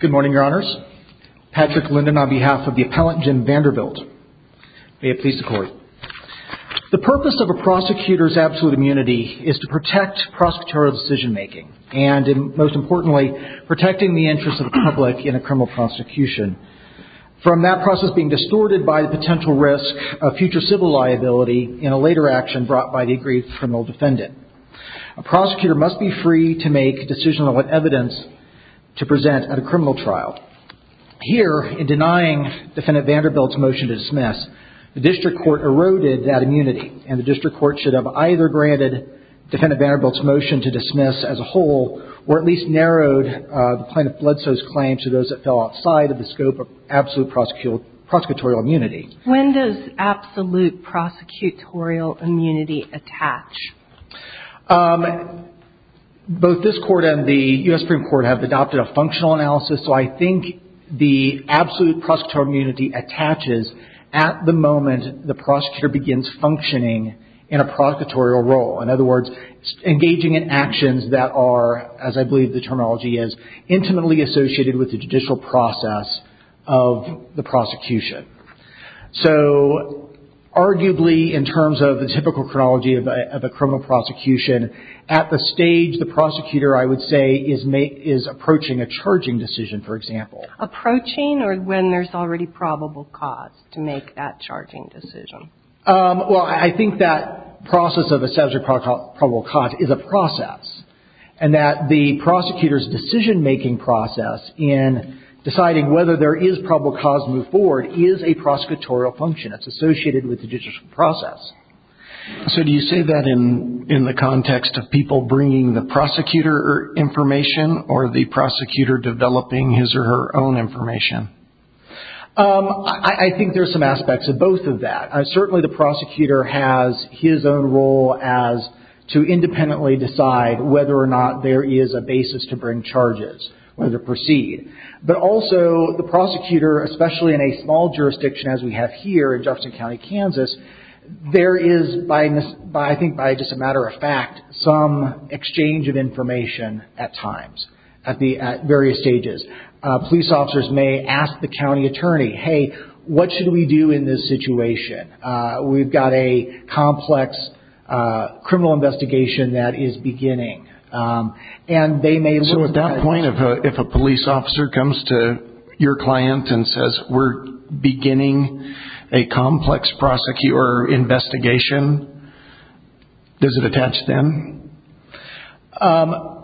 Good morning, Your Honors. Patrick Linden on behalf of the Appellant Jim Vanderbilt. May it please the Court. The purpose of a prosecutor's absolute immunity is to protect prosecutorial decision-making and, most importantly, protecting the interests of the public in a criminal prosecution from that process being distorted by the potential risk of future civil liability in a later action brought by the agreed criminal defendant. A prosecutor must be free to make a decision on what evidence to present at a criminal trial. Here, in denying Defendant Vanderbilt's motion to dismiss, the district court eroded that immunity and the district court should have either granted Defendant Vanderbilt's motion to dismiss as a whole or at least narrowed the plaintiff Bledsoe's claim to those that fell outside of the scope of absolute prosecutorial immunity. When does absolute prosecutorial immunity attach? Both this Court and the U.S. Supreme Court have adopted a functional analysis, so I think the absolute prosecutorial immunity attaches at the moment the prosecutor begins functioning in a prosecutorial role. In other words, engaging in actions that are, as I believe the terminology is, intimately associated with the judicial process of the prosecution. So, arguably, in terms of the typical chronology of a criminal prosecution, at the stage the prosecutor, I would say, is approaching a charging decision, for example. Approaching or when there's already probable cause to make that charging decision? Well, I think that process of establishing probable cause is a process and that the prosecutor's decision-making process in deciding whether there is probable cause to move forward is a prosecutorial function that's associated with the judicial process. So do you say that in the context of people bringing the prosecutor information or the prosecutor developing his or her own information? I think there's some aspects of both of that. Certainly, the prosecutor has his own role as to independently decide whether or not there is a basis to bring charges or to proceed. But also, the prosecutor, especially in a small jurisdiction as we have here in Jefferson County, Kansas, there is, I think by just a matter of fact, some exchange of information at times, at various stages. Police officers may ask the county attorney, hey, what should we do in this situation? We've got a complex criminal investigation that is beginning. So at that point, if a police officer comes to your client and says, we're beginning a complex investigation, does it attach them?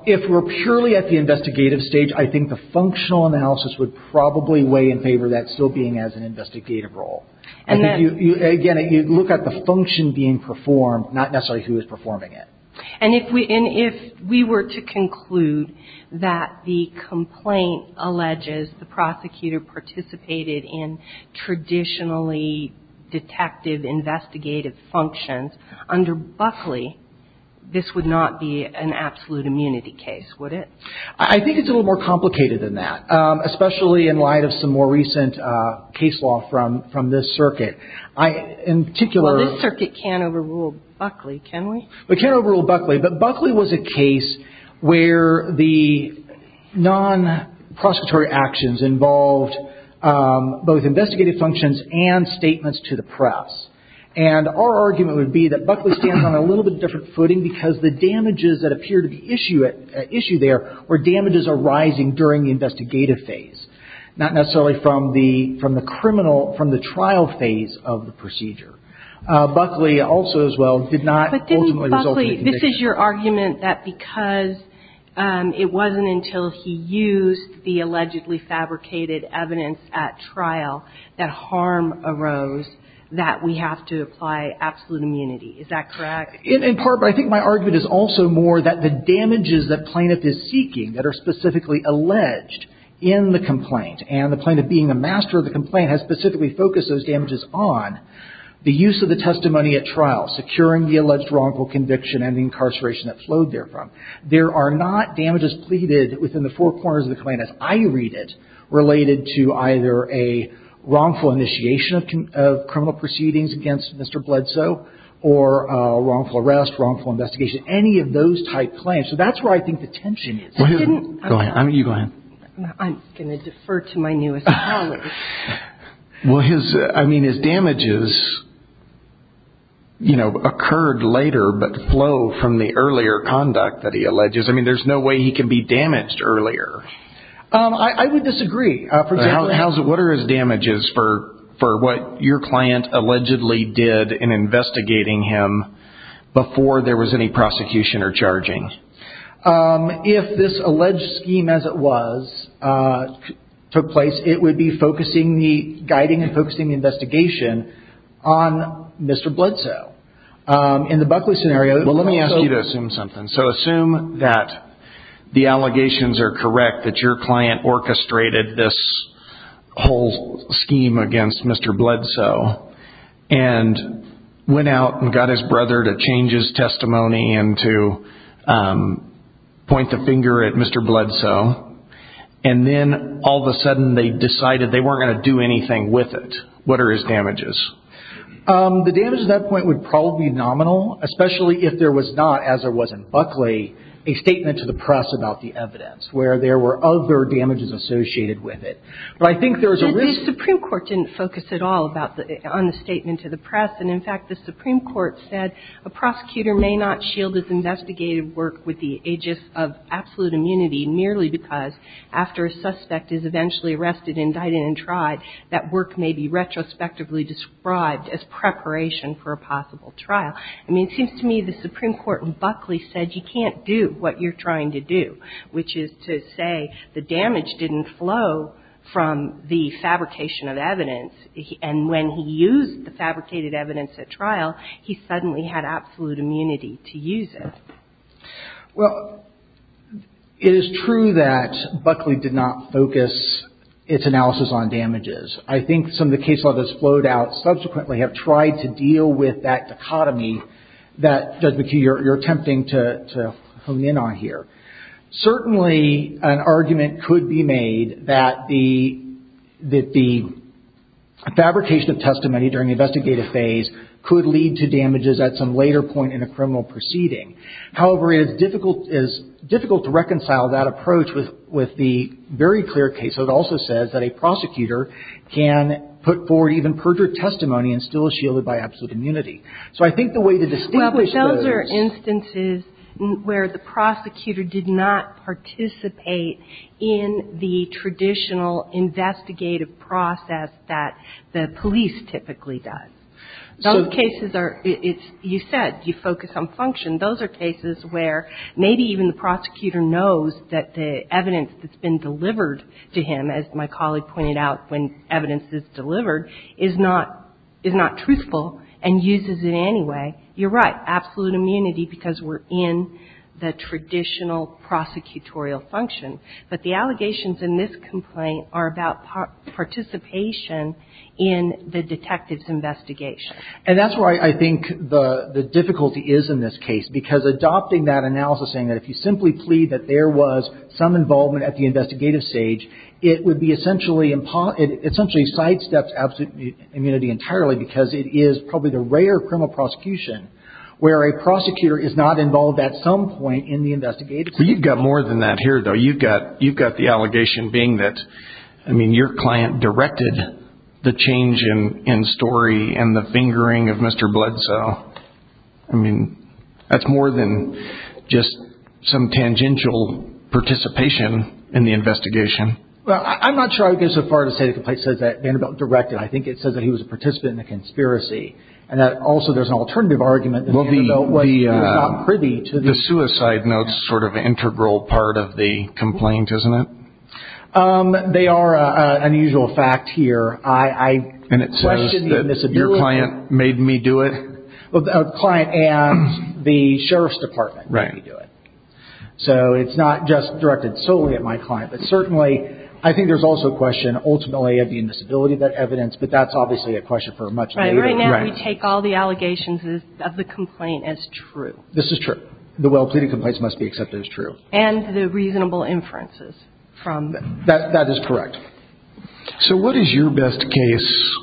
If we're purely at the investigative stage, I think the functional analysis would probably weigh in favor of that still being as an investigative role. Again, you look at the function being performed, not necessarily who is performing it. And if we were to conclude that the complaint alleges the prosecutor participated in traditionally detective investigative functions under Buckley, this would not be an absolute immunity case, would it? I think it's a little more complicated than that, especially in light of some more recent case law from this circuit. Well, this circuit can't overrule Buckley, can we? It can't overrule Buckley. But Buckley was a case where the non-prosecutory actions involved both investigative functions and statements to the press. And our argument would be that Buckley stands on a little bit different footing because the damages that appear to be at issue there were damages arising during the investigative phase, not necessarily from the trial phase of the procedure. Buckley also, as well, did not ultimately result in a conviction. This is your argument that because it wasn't until he used the allegedly fabricated evidence at trial that harm arose that we have to apply absolute immunity. Is that correct? In part. But I think my argument is also more that the damages that plaintiff is seeking that are specifically alleged in the complaint, and the plaintiff being the master of the complaint has specifically focused those damages on the use of the testimony at trial, securing the alleged wrongful conviction, and the incarceration that flowed therefrom. There are not damages pleaded within the four corners of the complaint, as I read it, related to either a wrongful initiation of criminal proceedings against Mr. Bledsoe or a wrongful arrest, wrongful investigation, any of those type claims. So that's where I think the tension is. I didn't – Go ahead. You go ahead. I'm going to defer to my newest colleague. Well, his – I mean, his damages, you know, occurred later but flow from the earlier conduct that he alleges. I mean, there's no way he can be damaged earlier. I would disagree. What are his damages for what your client allegedly did in investigating him before there was any prosecution or charging? If this alleged scheme as it was took place, it would be focusing the – guiding and focusing the investigation on Mr. Bledsoe. In the Buckley scenario – Well, let me ask you to assume something. So assume that the allegations are correct, that your client orchestrated this whole scheme against Mr. Bledsoe and went out and got his brother to change his testimony and to point the finger at Mr. Bledsoe, and then all of a sudden they decided they weren't going to do anything with it. What are his damages? The damages at that point would probably be nominal, especially if there was not, as there was in Buckley, a statement to the press about the evidence where there were other damages associated with it. But I think there was a risk – I don't know about the – on the statement to the press. And, in fact, the Supreme Court said, a prosecutor may not shield his investigated work with the aegis of absolute immunity merely because after a suspect is eventually arrested, indicted, and tried, that work may be retrospectively described as preparation for a possible trial. I mean, it seems to me the Supreme Court in Buckley said you can't do what you're trying to do, which is to say the damage didn't flow from the fabrication of evidence and when he used the fabricated evidence at trial, he suddenly had absolute immunity to use it. Well, it is true that Buckley did not focus its analysis on damages. I think some of the case law that's flowed out subsequently have tried to deal with that dichotomy that, Judge McHugh, you're attempting to hone in on here. Certainly, an argument could be made that the fabrication of testimony during the investigative phase could lead to damages at some later point in a criminal proceeding. However, it is difficult to reconcile that approach with the very clear case. So it also says that a prosecutor can put forward even perjured testimony and still be shielded by absolute immunity. So I think the way to distinguish those – I think the way to distinguish those cases is that the prosecutor did not participate in the traditional investigative process that the police typically does. Those cases are – it's – you said you focus on function. Those are cases where maybe even the prosecutor knows that the evidence that's been delivered to him, as my colleague pointed out when evidence is delivered, is not – is not truthful and uses it anyway. You're right. Absolute immunity because we're in the traditional prosecutorial function. But the allegations in this complaint are about participation in the detective's investigation. And that's where I think the difficulty is in this case, because adopting that analysis and saying that if you simply plead that there was some involvement at the investigative stage, it would be essentially – it essentially sidesteps absolute immunity entirely because it is probably the rare criminal prosecution where a prosecutor is not involved at some point in the investigation. But you've got more than that here, though. You've got – you've got the allegation being that, I mean, your client directed the change in story and the fingering of Mr. Bledsoe. I mean, that's more than just some tangential participation in the investigation. Well, I'm not sure I would go so far to say that the complaint says that Vanderbilt directed. I think it says that he was a participant in the conspiracy. And that also there's an alternative argument that Vanderbilt was not privy to the investigation. The suicide note's sort of an integral part of the complaint, isn't it? They are an unusual fact here. I question the invisibility. And it says that your client made me do it? Well, the client and the sheriff's department made me do it. Right. So it's not just directed solely at my client. But certainly I think there's also a question ultimately of the invisibility of that evidence. But that's obviously a question for much later. Right. Right now we take all the allegations of the complaint as true. This is true. The well-pleaded complaints must be accepted as true. And the reasonable inferences from them. That is correct. So what is your best case?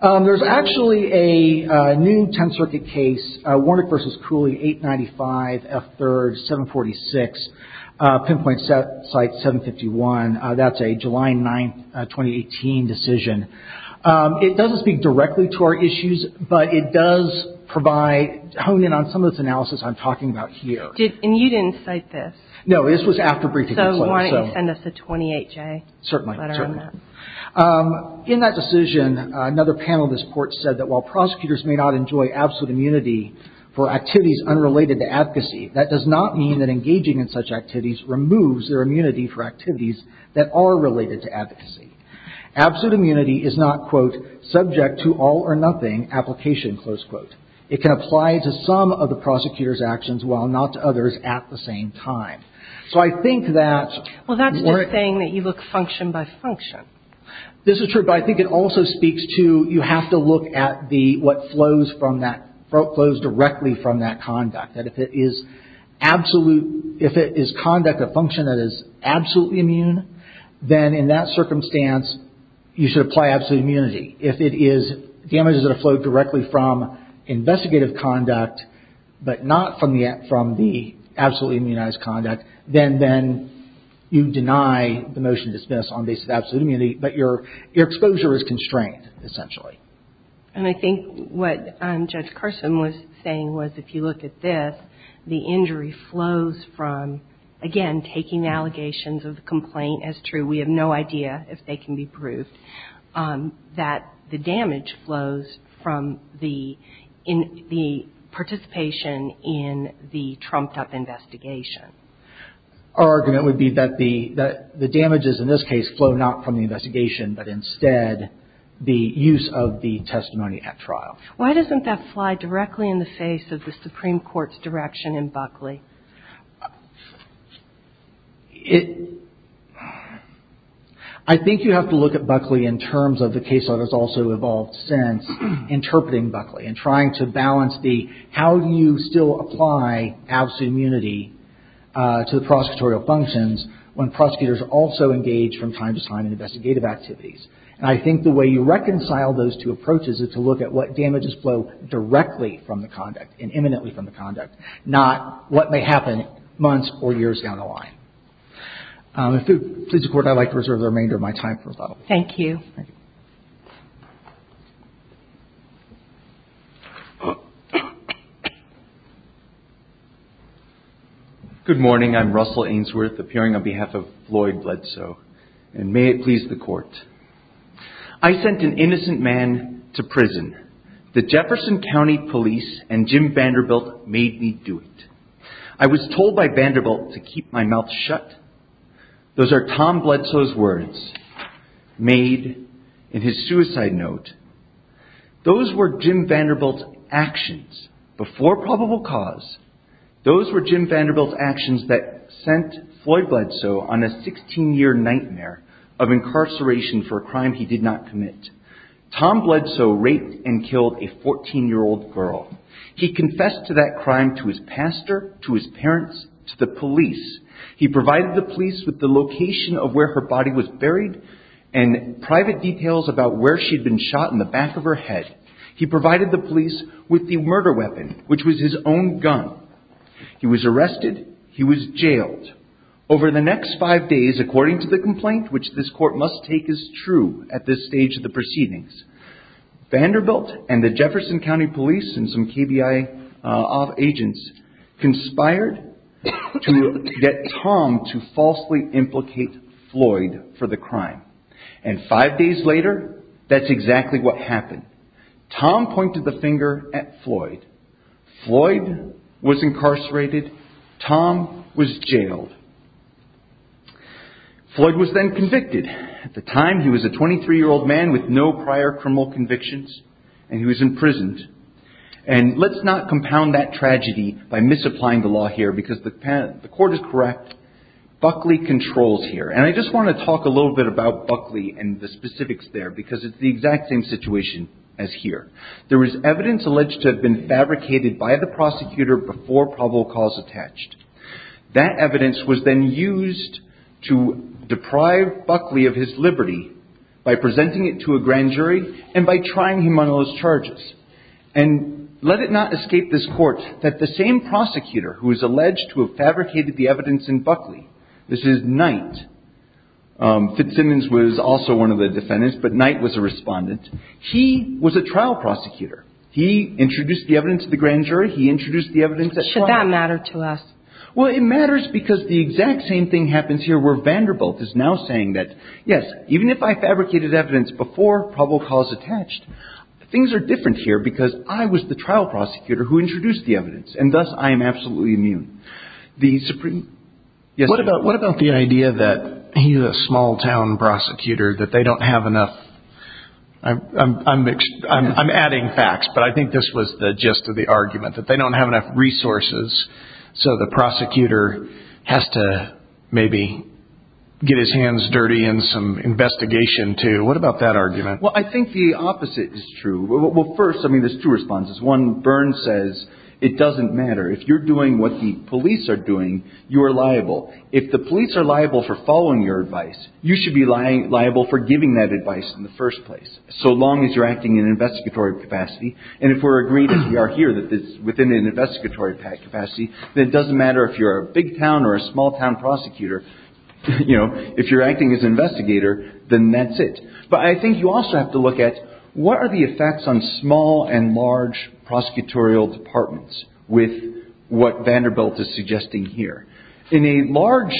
There's actually a new 10th Circuit case, Warnick v. Cooley, 895 F3rd 746, pinpoint site 751. That's a July 9, 2018 decision. It doesn't speak directly to our issues. But it does provide, hone in on some of this analysis I'm talking about here. And you didn't cite this? No, this was after briefing. So why don't you send us a 28-J letter on that? Certainly. In that decision, another panel of this court said that while prosecutors may not enjoy absolute immunity for activities unrelated to advocacy, that does not mean that engaging in such activities removes their immunity for activities that are related to advocacy. Absolute immunity is not, quote, subject to all or nothing application, close quote. It can apply to some of the prosecutor's actions while not to others at the same time. So I think that we're This is just saying that you look function by function. This is true, but I think it also speaks to you have to look at what flows directly from that conduct. That if it is conduct of function that is absolutely immune, then in that circumstance, you should apply absolute immunity. If it is damages that have flowed directly from investigative conduct, but not from the absolutely immunized conduct, then you deny the motion to dismiss on the basis of absolute immunity, but your exposure is constrained, essentially. And I think what Judge Carson was saying was if you look at this, the injury flows from, again, taking allegations of the complaint as true, we have no idea if they can be proved, that the damage flows from the participation in the trumped-up investigation. Our argument would be that the damages in this case flow not from the investigation, but instead the use of the testimony at trial. Why doesn't that fly directly in the face of the Supreme Court's direction in Buckley? I think you have to look at Buckley in terms of the case that has also evolved since, and trying to balance the how you still apply absolute immunity to the prosecutorial functions when prosecutors also engage from time to time in investigative activities. And I think the way you reconcile those two approaches is to look at what damages flow directly from the conduct and imminently from the conduct, not what may happen months or years down the line. If it pleases the Court, I would like to reserve the remainder of my time for thought. Thank you. Good morning. I'm Russell Ainsworth, appearing on behalf of Floyd Bledsoe. And may it please the Court. I sent an innocent man to prison. The Jefferson County police and Jim Vanderbilt made me do it. I was told by Vanderbilt to keep my mouth shut. Those are Tom Bledsoe's words made in his suicide note. Those were Jim Vanderbilt's actions before probable cause. Those were Jim Vanderbilt's actions that sent Floyd Bledsoe on a 16-year nightmare of incarceration for a crime he did not commit. Tom Bledsoe raped and killed a 14-year-old girl. He confessed to that crime to his pastor, to his parents, to the police. He provided the police with the location of where her body was buried and private details about where she'd been shot in the back of her head. He provided the police with the murder weapon, which was his own gun. He was arrested. He was jailed. Over the next five days, according to the complaint, which this Court must take as true at this stage of the proceedings, Vanderbilt and the Jefferson County police and some KBI agents conspired to get Tom to falsely implicate Floyd for the crime. And five days later, that's exactly what happened. Tom pointed the finger at Floyd. Floyd was incarcerated. Tom was jailed. Floyd was then convicted. At the time, he was a 23-year-old man with no prior criminal convictions, and he was imprisoned. And let's not compound that tragedy by misapplying the law here, because the court is correct. Buckley controls here. And I just want to talk a little bit about Buckley and the specifics there, because it's the exact same situation as here. There was evidence alleged to have been fabricated by the prosecutor before probable cause attached. That evidence was then used to deprive Buckley of his liberty by presenting it to a grand jury and by trying him on those charges. And let it not escape this court that the same prosecutor who is alleged to have fabricated the evidence in Buckley, this is Knight. Fitzsimmons was also one of the defendants, but Knight was a respondent. He was a trial prosecutor. He introduced the evidence to the grand jury. He introduced the evidence at trial. Should that matter to us? Well, it matters because the exact same thing happens here, where Vanderbilt is now saying that, yes, even if I fabricated evidence before probable cause attached, things are different here because I was the trial prosecutor who introduced the evidence, and thus I am absolutely immune. What about the idea that he's a small-town prosecutor, that they don't have enough? I'm adding facts, but I think this was the gist of the argument, that they don't have enough resources, so the prosecutor has to maybe get his hands dirty in some investigation, too. What about that argument? Well, I think the opposite is true. Well, first, I mean, there's two responses. One, Burns says it doesn't matter. If you're doing what the police are doing, you are liable. If the police are liable for following your advice, you should be liable for giving that advice in the first place, so long as you're acting in an investigatory capacity. And if we're agreed, as we are here, that it's within an investigatory capacity, then it doesn't matter if you're a big-town or a small-town prosecutor. You know, if you're acting as an investigator, then that's it. But I think you also have to look at what are the effects on small and large prosecutorial departments with what Vanderbilt is suggesting here. In a large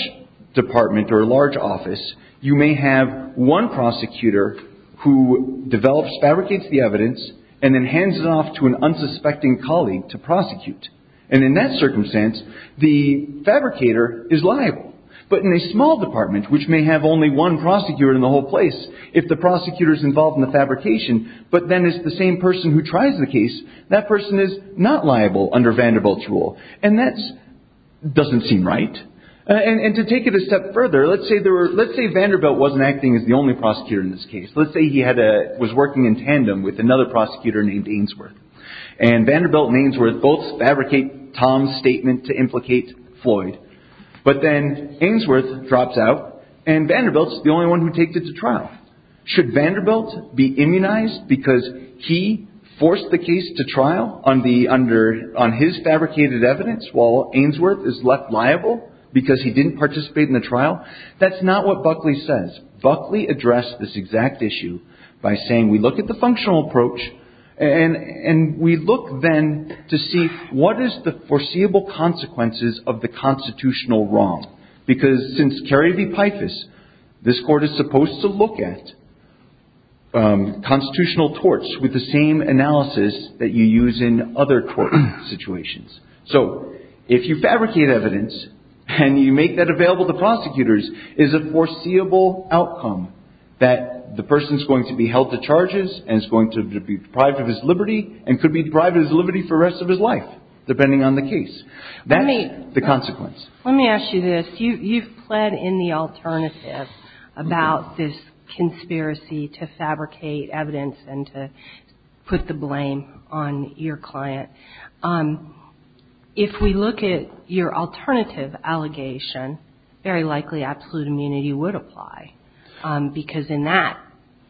department or a large office, you may have one prosecutor who develops, fabricates the evidence and then hands it off to an unsuspecting colleague to prosecute. And in that circumstance, the fabricator is liable. But in a small department, which may have only one prosecutor in the whole place, if the prosecutor is involved in the fabrication, but then is the same person who tries the case, that person is not liable under Vanderbilt's rule. And that doesn't seem right. And to take it a step further, let's say Vanderbilt wasn't acting as the only prosecutor in this case. Let's say he was working in tandem with another prosecutor named Ainsworth. And Vanderbilt and Ainsworth both fabricate Tom's statement to implicate Floyd. But then Ainsworth drops out and Vanderbilt is the only one who takes it to trial. Should Vanderbilt be immunized because he forced the case to trial on his fabricated evidence while Ainsworth is left liable because he didn't participate in the trial? That's not what Buckley says. Buckley addressed this exact issue by saying, we look at the functional approach and we look then to see what is the foreseeable consequences of the constitutional wrong? Because since Kerry v. Pifus, this court is supposed to look at constitutional torts with the same analysis that you use in other court situations. So if you fabricate evidence and you make that available to prosecutors, is it a foreseeable outcome that the person is going to be held to charges and is going to be deprived of his liberty and could be deprived of his liberty for the rest of his life, depending on the case? That's the consequence. Let me ask you this. You've pled in the alternative about this conspiracy to fabricate evidence and to put the blame on your client. If we look at your alternative allegation, very likely absolute immunity would apply because in that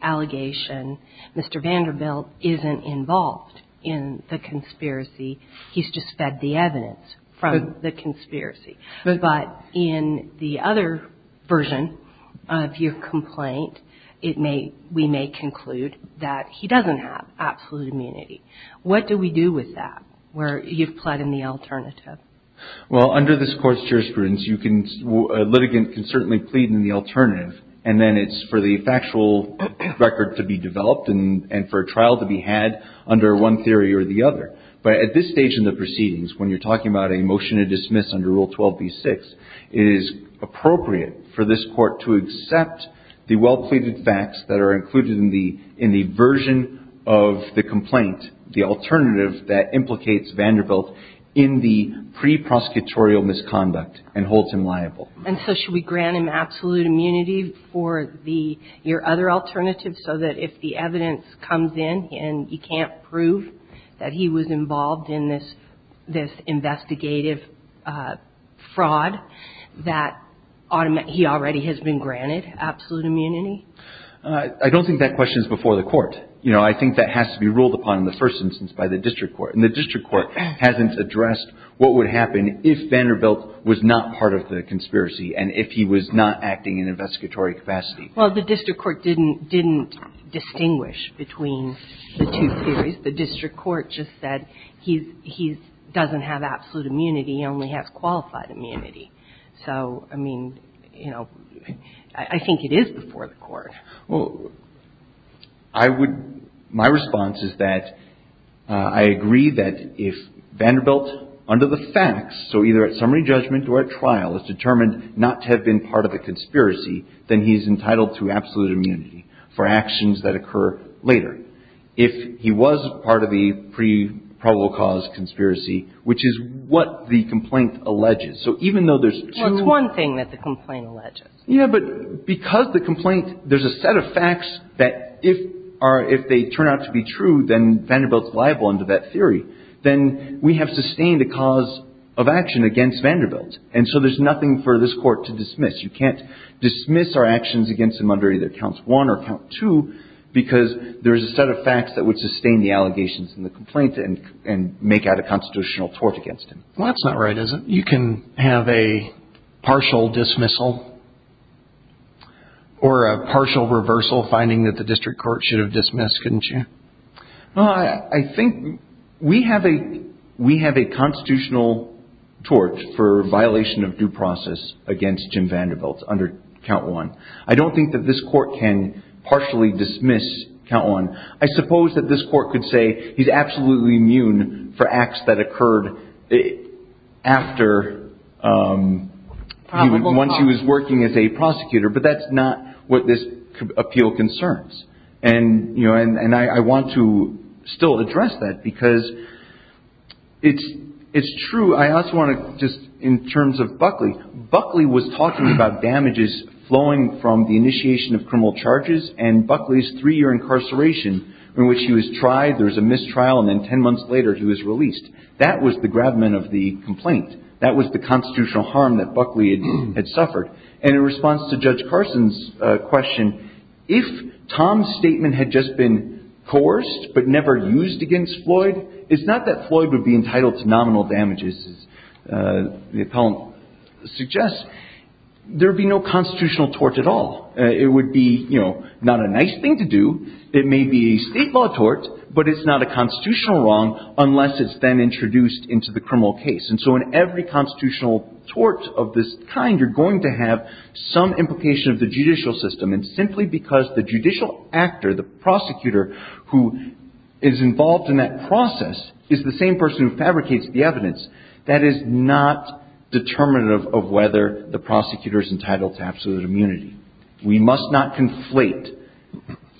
allegation, Mr. Vanderbilt isn't involved in the conspiracy. He's just fed the evidence from the conspiracy. But in the other version of your complaint, we may conclude that he doesn't have absolute immunity. What do we do with that, where you've pled in the alternative? Well, under this Court's jurisprudence, a litigant can certainly plead in the alternative, and then it's for the factual record to be developed and for a trial to be had under one theory or the other. But at this stage in the proceedings, when you're talking about a motion to dismiss under Rule 12b-6, it is appropriate for this Court to accept the well-pleaded facts that are included in the version of the complaint, the alternative that implicates Vanderbilt in the pre-prosecutorial misconduct and holds him liable. And so should we grant him absolute immunity for your other alternative so that if the evidence comes in and you can't prove that he was involved in this investigative fraud, that he already has been granted absolute immunity? I don't think that question is before the Court. You know, I think that has to be ruled upon in the first instance by the district court. And the district court hasn't addressed what would happen if Vanderbilt was not part of the conspiracy and if he was not acting in investigatory capacity. Well, the district court didn't distinguish between the two theories. The district court just said he doesn't have absolute immunity, he only has qualified immunity. So, I mean, you know, I think it is before the Court. Well, I would – my response is that I agree that if Vanderbilt, under the facts, so either at summary judgment or at trial, is determined not to have been part of a conspiracy, then he is entitled to absolute immunity for actions that occur later. If he was part of the pre-probable cause conspiracy, which is what the complaint alleges. So even though there's two – Well, it's one thing that the complaint alleges. Yeah, but because the complaint – there's a set of facts that if they turn out to be true, then Vanderbilt's liable under that theory. Then we have sustained a cause of action against Vanderbilt. And so there's nothing for this Court to dismiss. You can't dismiss our actions against him under either Count 1 or Count 2 because there is a set of facts that would sustain the allegations in the complaint and make out a constitutional tort against him. Well, that's not right, is it? You can have a partial dismissal or a partial reversal finding that the district court should have dismissed, couldn't you? I think we have a constitutional tort for violation of due process against Jim Vanderbilt under Count 1. I don't think that this Court can partially dismiss Count 1. I suppose that this Court could say he's absolutely immune for acts that occurred after – Once he was working as a prosecutor. But that's not what this appeal concerns. And I want to still address that because it's true. I also want to just – in terms of Buckley, Buckley was talking about damages flowing from the initiation of criminal charges and Buckley's three-year incarceration in which he was tried, there was a mistrial, and then ten months later he was released. That was the grabment of the complaint. That was the constitutional harm that Buckley had suffered. And in response to Judge Carson's question, if Tom's statement had just been coerced but never used against Floyd, it's not that Floyd would be entitled to nominal damages, as the appellant suggests. There would be no constitutional tort at all. It would be, you know, not a nice thing to do. It may be a state law tort, but it's not a constitutional wrong unless it's then introduced into the criminal case. And so in every constitutional tort of this kind, you're going to have some implication of the judicial system. And simply because the judicial actor, the prosecutor, who is involved in that process is the same person who fabricates the evidence, that is not determinative of whether the prosecutor is entitled to absolute immunity. We must not conflate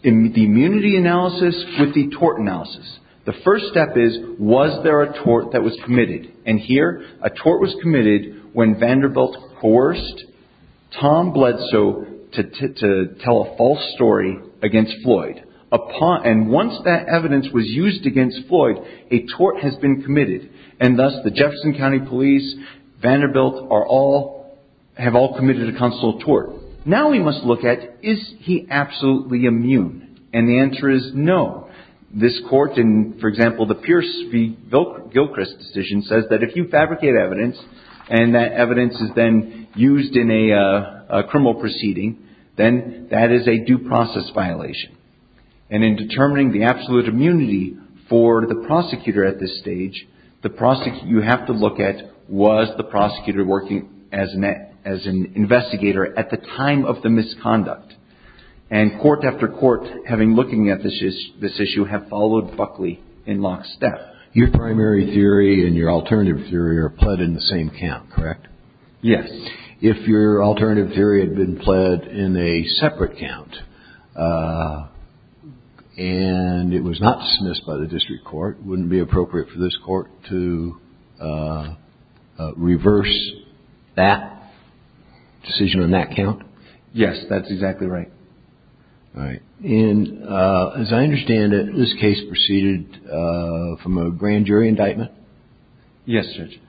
the immunity analysis with the tort analysis. The first step is, was there a tort that was committed? And here, a tort was committed when Vanderbilt coerced Tom Bledsoe to tell a false story against Floyd. And once that evidence was used against Floyd, a tort has been committed. And thus, the Jefferson County Police, Vanderbilt, have all committed a constitutional tort. Now we must look at, is he absolutely immune? And the answer is no. This court, in, for example, the Pierce v. Gilchrist decision, says that if you fabricate evidence and that evidence is then used in a criminal proceeding, then that is a due process violation. And in determining the absolute immunity for the prosecutor at this stage, you have to look at, was the prosecutor working as an investigator at the time of the misconduct? And court after court, having looked at this issue, have followed Buckley in lockstep. Your primary theory and your alternative theory are pled in the same count, correct? Yes. If your alternative theory had been pled in a separate count, and it was not dismissed by the district court, wouldn't it be appropriate for this court to reverse that decision on that count? Yes, that's exactly right. All right. And as I understand it, this case proceeded from a grand jury indictment? Yes, Judge.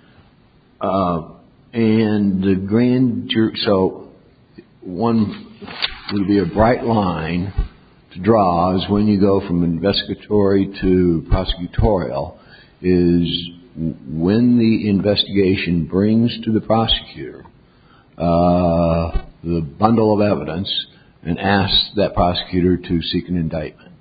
And the grand jury, so one would be a bright line to draw, is when you go from investigatory to prosecutorial, is when the investigation brings to the prosecutor the bundle of evidence and asks that prosecutor to seek an indictment.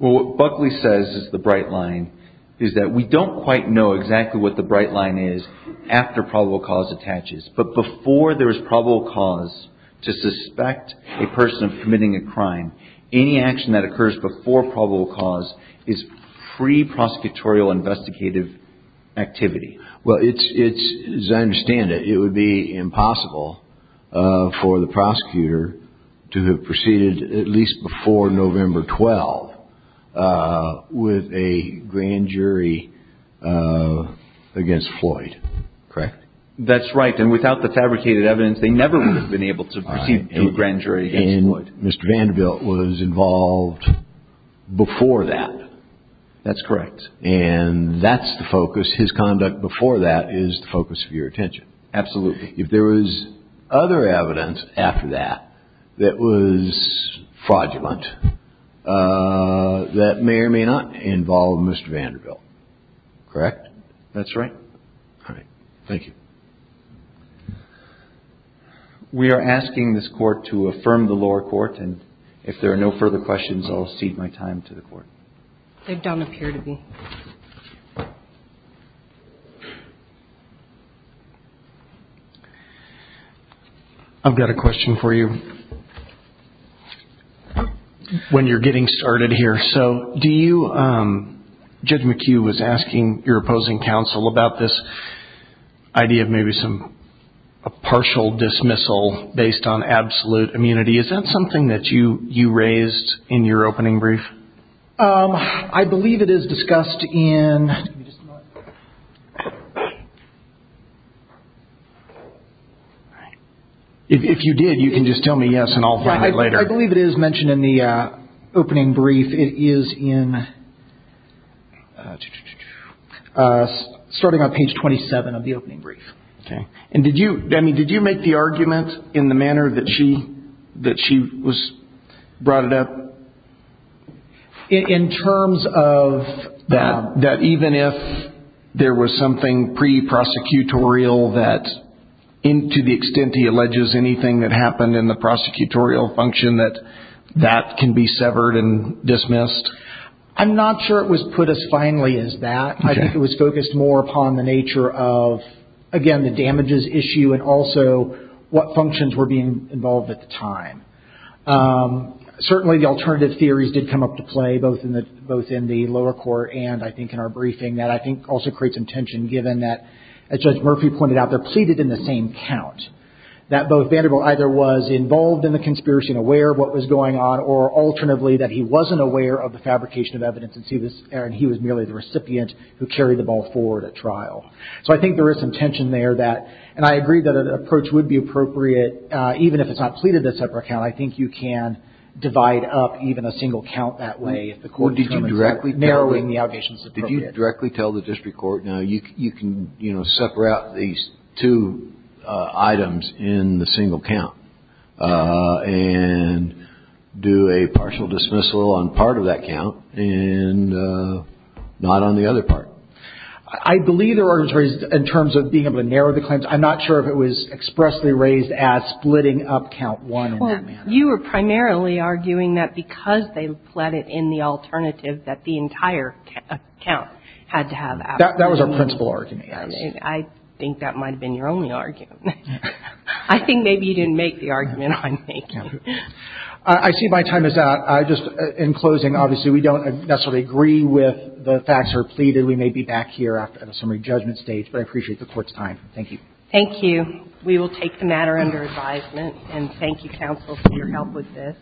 Well, what Buckley says is the bright line is that we don't quite know exactly what the bright line is after probable cause attaches. But before there is probable cause to suspect a person of committing a crime, any action that occurs before probable cause is pre-prosecutorial investigative activity. Well, as I understand it, it would be impossible for the prosecutor to have proceeded at least before November 12th with a grand jury against Floyd, correct? That's right. And without the fabricated evidence, they never would have been able to proceed to a grand jury against Floyd. All right. And Mr. Vanderbilt was involved before that. That's correct. And that's the focus. His conduct before that is the focus of your attention. Absolutely. If there was other evidence after that that was fraudulent, that may or may not involve Mr. Vanderbilt. Correct? That's right. All right. Thank you. We are asking this Court to affirm the lower court, and if there are no further questions, I'll cede my time to the Court. They don't appear to be. I've got a question for you when you're getting started here. So Judge McHugh was asking your opposing counsel about this idea of maybe a partial dismissal based on absolute immunity. Is that something that you raised in your opening brief? I believe it is discussed in – If you did, you can just tell me yes, and I'll find it later. I believe it is mentioned in the opening brief. It is in – starting on page 27 of the opening brief. Okay. And did you – I mean, did you make the argument in the manner that she was – brought it up? In terms of – That even if there was something pre-prosecutorial that, to the extent he alleges anything that happened in the prosecutorial function, that that can be severed and dismissed? I'm not sure it was put as finely as that. I think it was focused more upon the nature of, again, the damages issue and also what functions were being involved at the time. Certainly the alternative theories did come up to play, both in the lower court and I think in our briefing, that I think also creates some tension given that, as Judge Murphy pointed out, they're pleaded in the same count, that both Vanderbilt either was involved in the conspiracy and aware of what was going on, or alternatively that he wasn't aware of the fabrication of evidence and he was merely the recipient who carried the ball forward at trial. So I think there is some tension there that – and I agree that an approach would be appropriate, even if it's not pleaded in a separate count. I think you can divide up even a single count that way if the court determines that narrowing the allegations is appropriate. Did you directly tell the district court, no, you can separate these two items in the single count and do a partial dismissal on part of that count and not on the other part? I believe there was in terms of being able to narrow the claims. I'm not sure if it was expressly raised as splitting up count one. Well, you were primarily arguing that because they pleaded in the alternative, that the entire count had to have absolutely no evidence. That was our principal argument, yes. I think that might have been your only argument. I think maybe you didn't make the argument I'm making. I see my time is up. Just in closing, obviously, we don't necessarily agree with the facts that are pleaded. We may be back here at a summary judgment stage, but I appreciate the Court's time. Thank you. Thank you. We will take the matter under advisement. And thank you, counsel, for your help with this.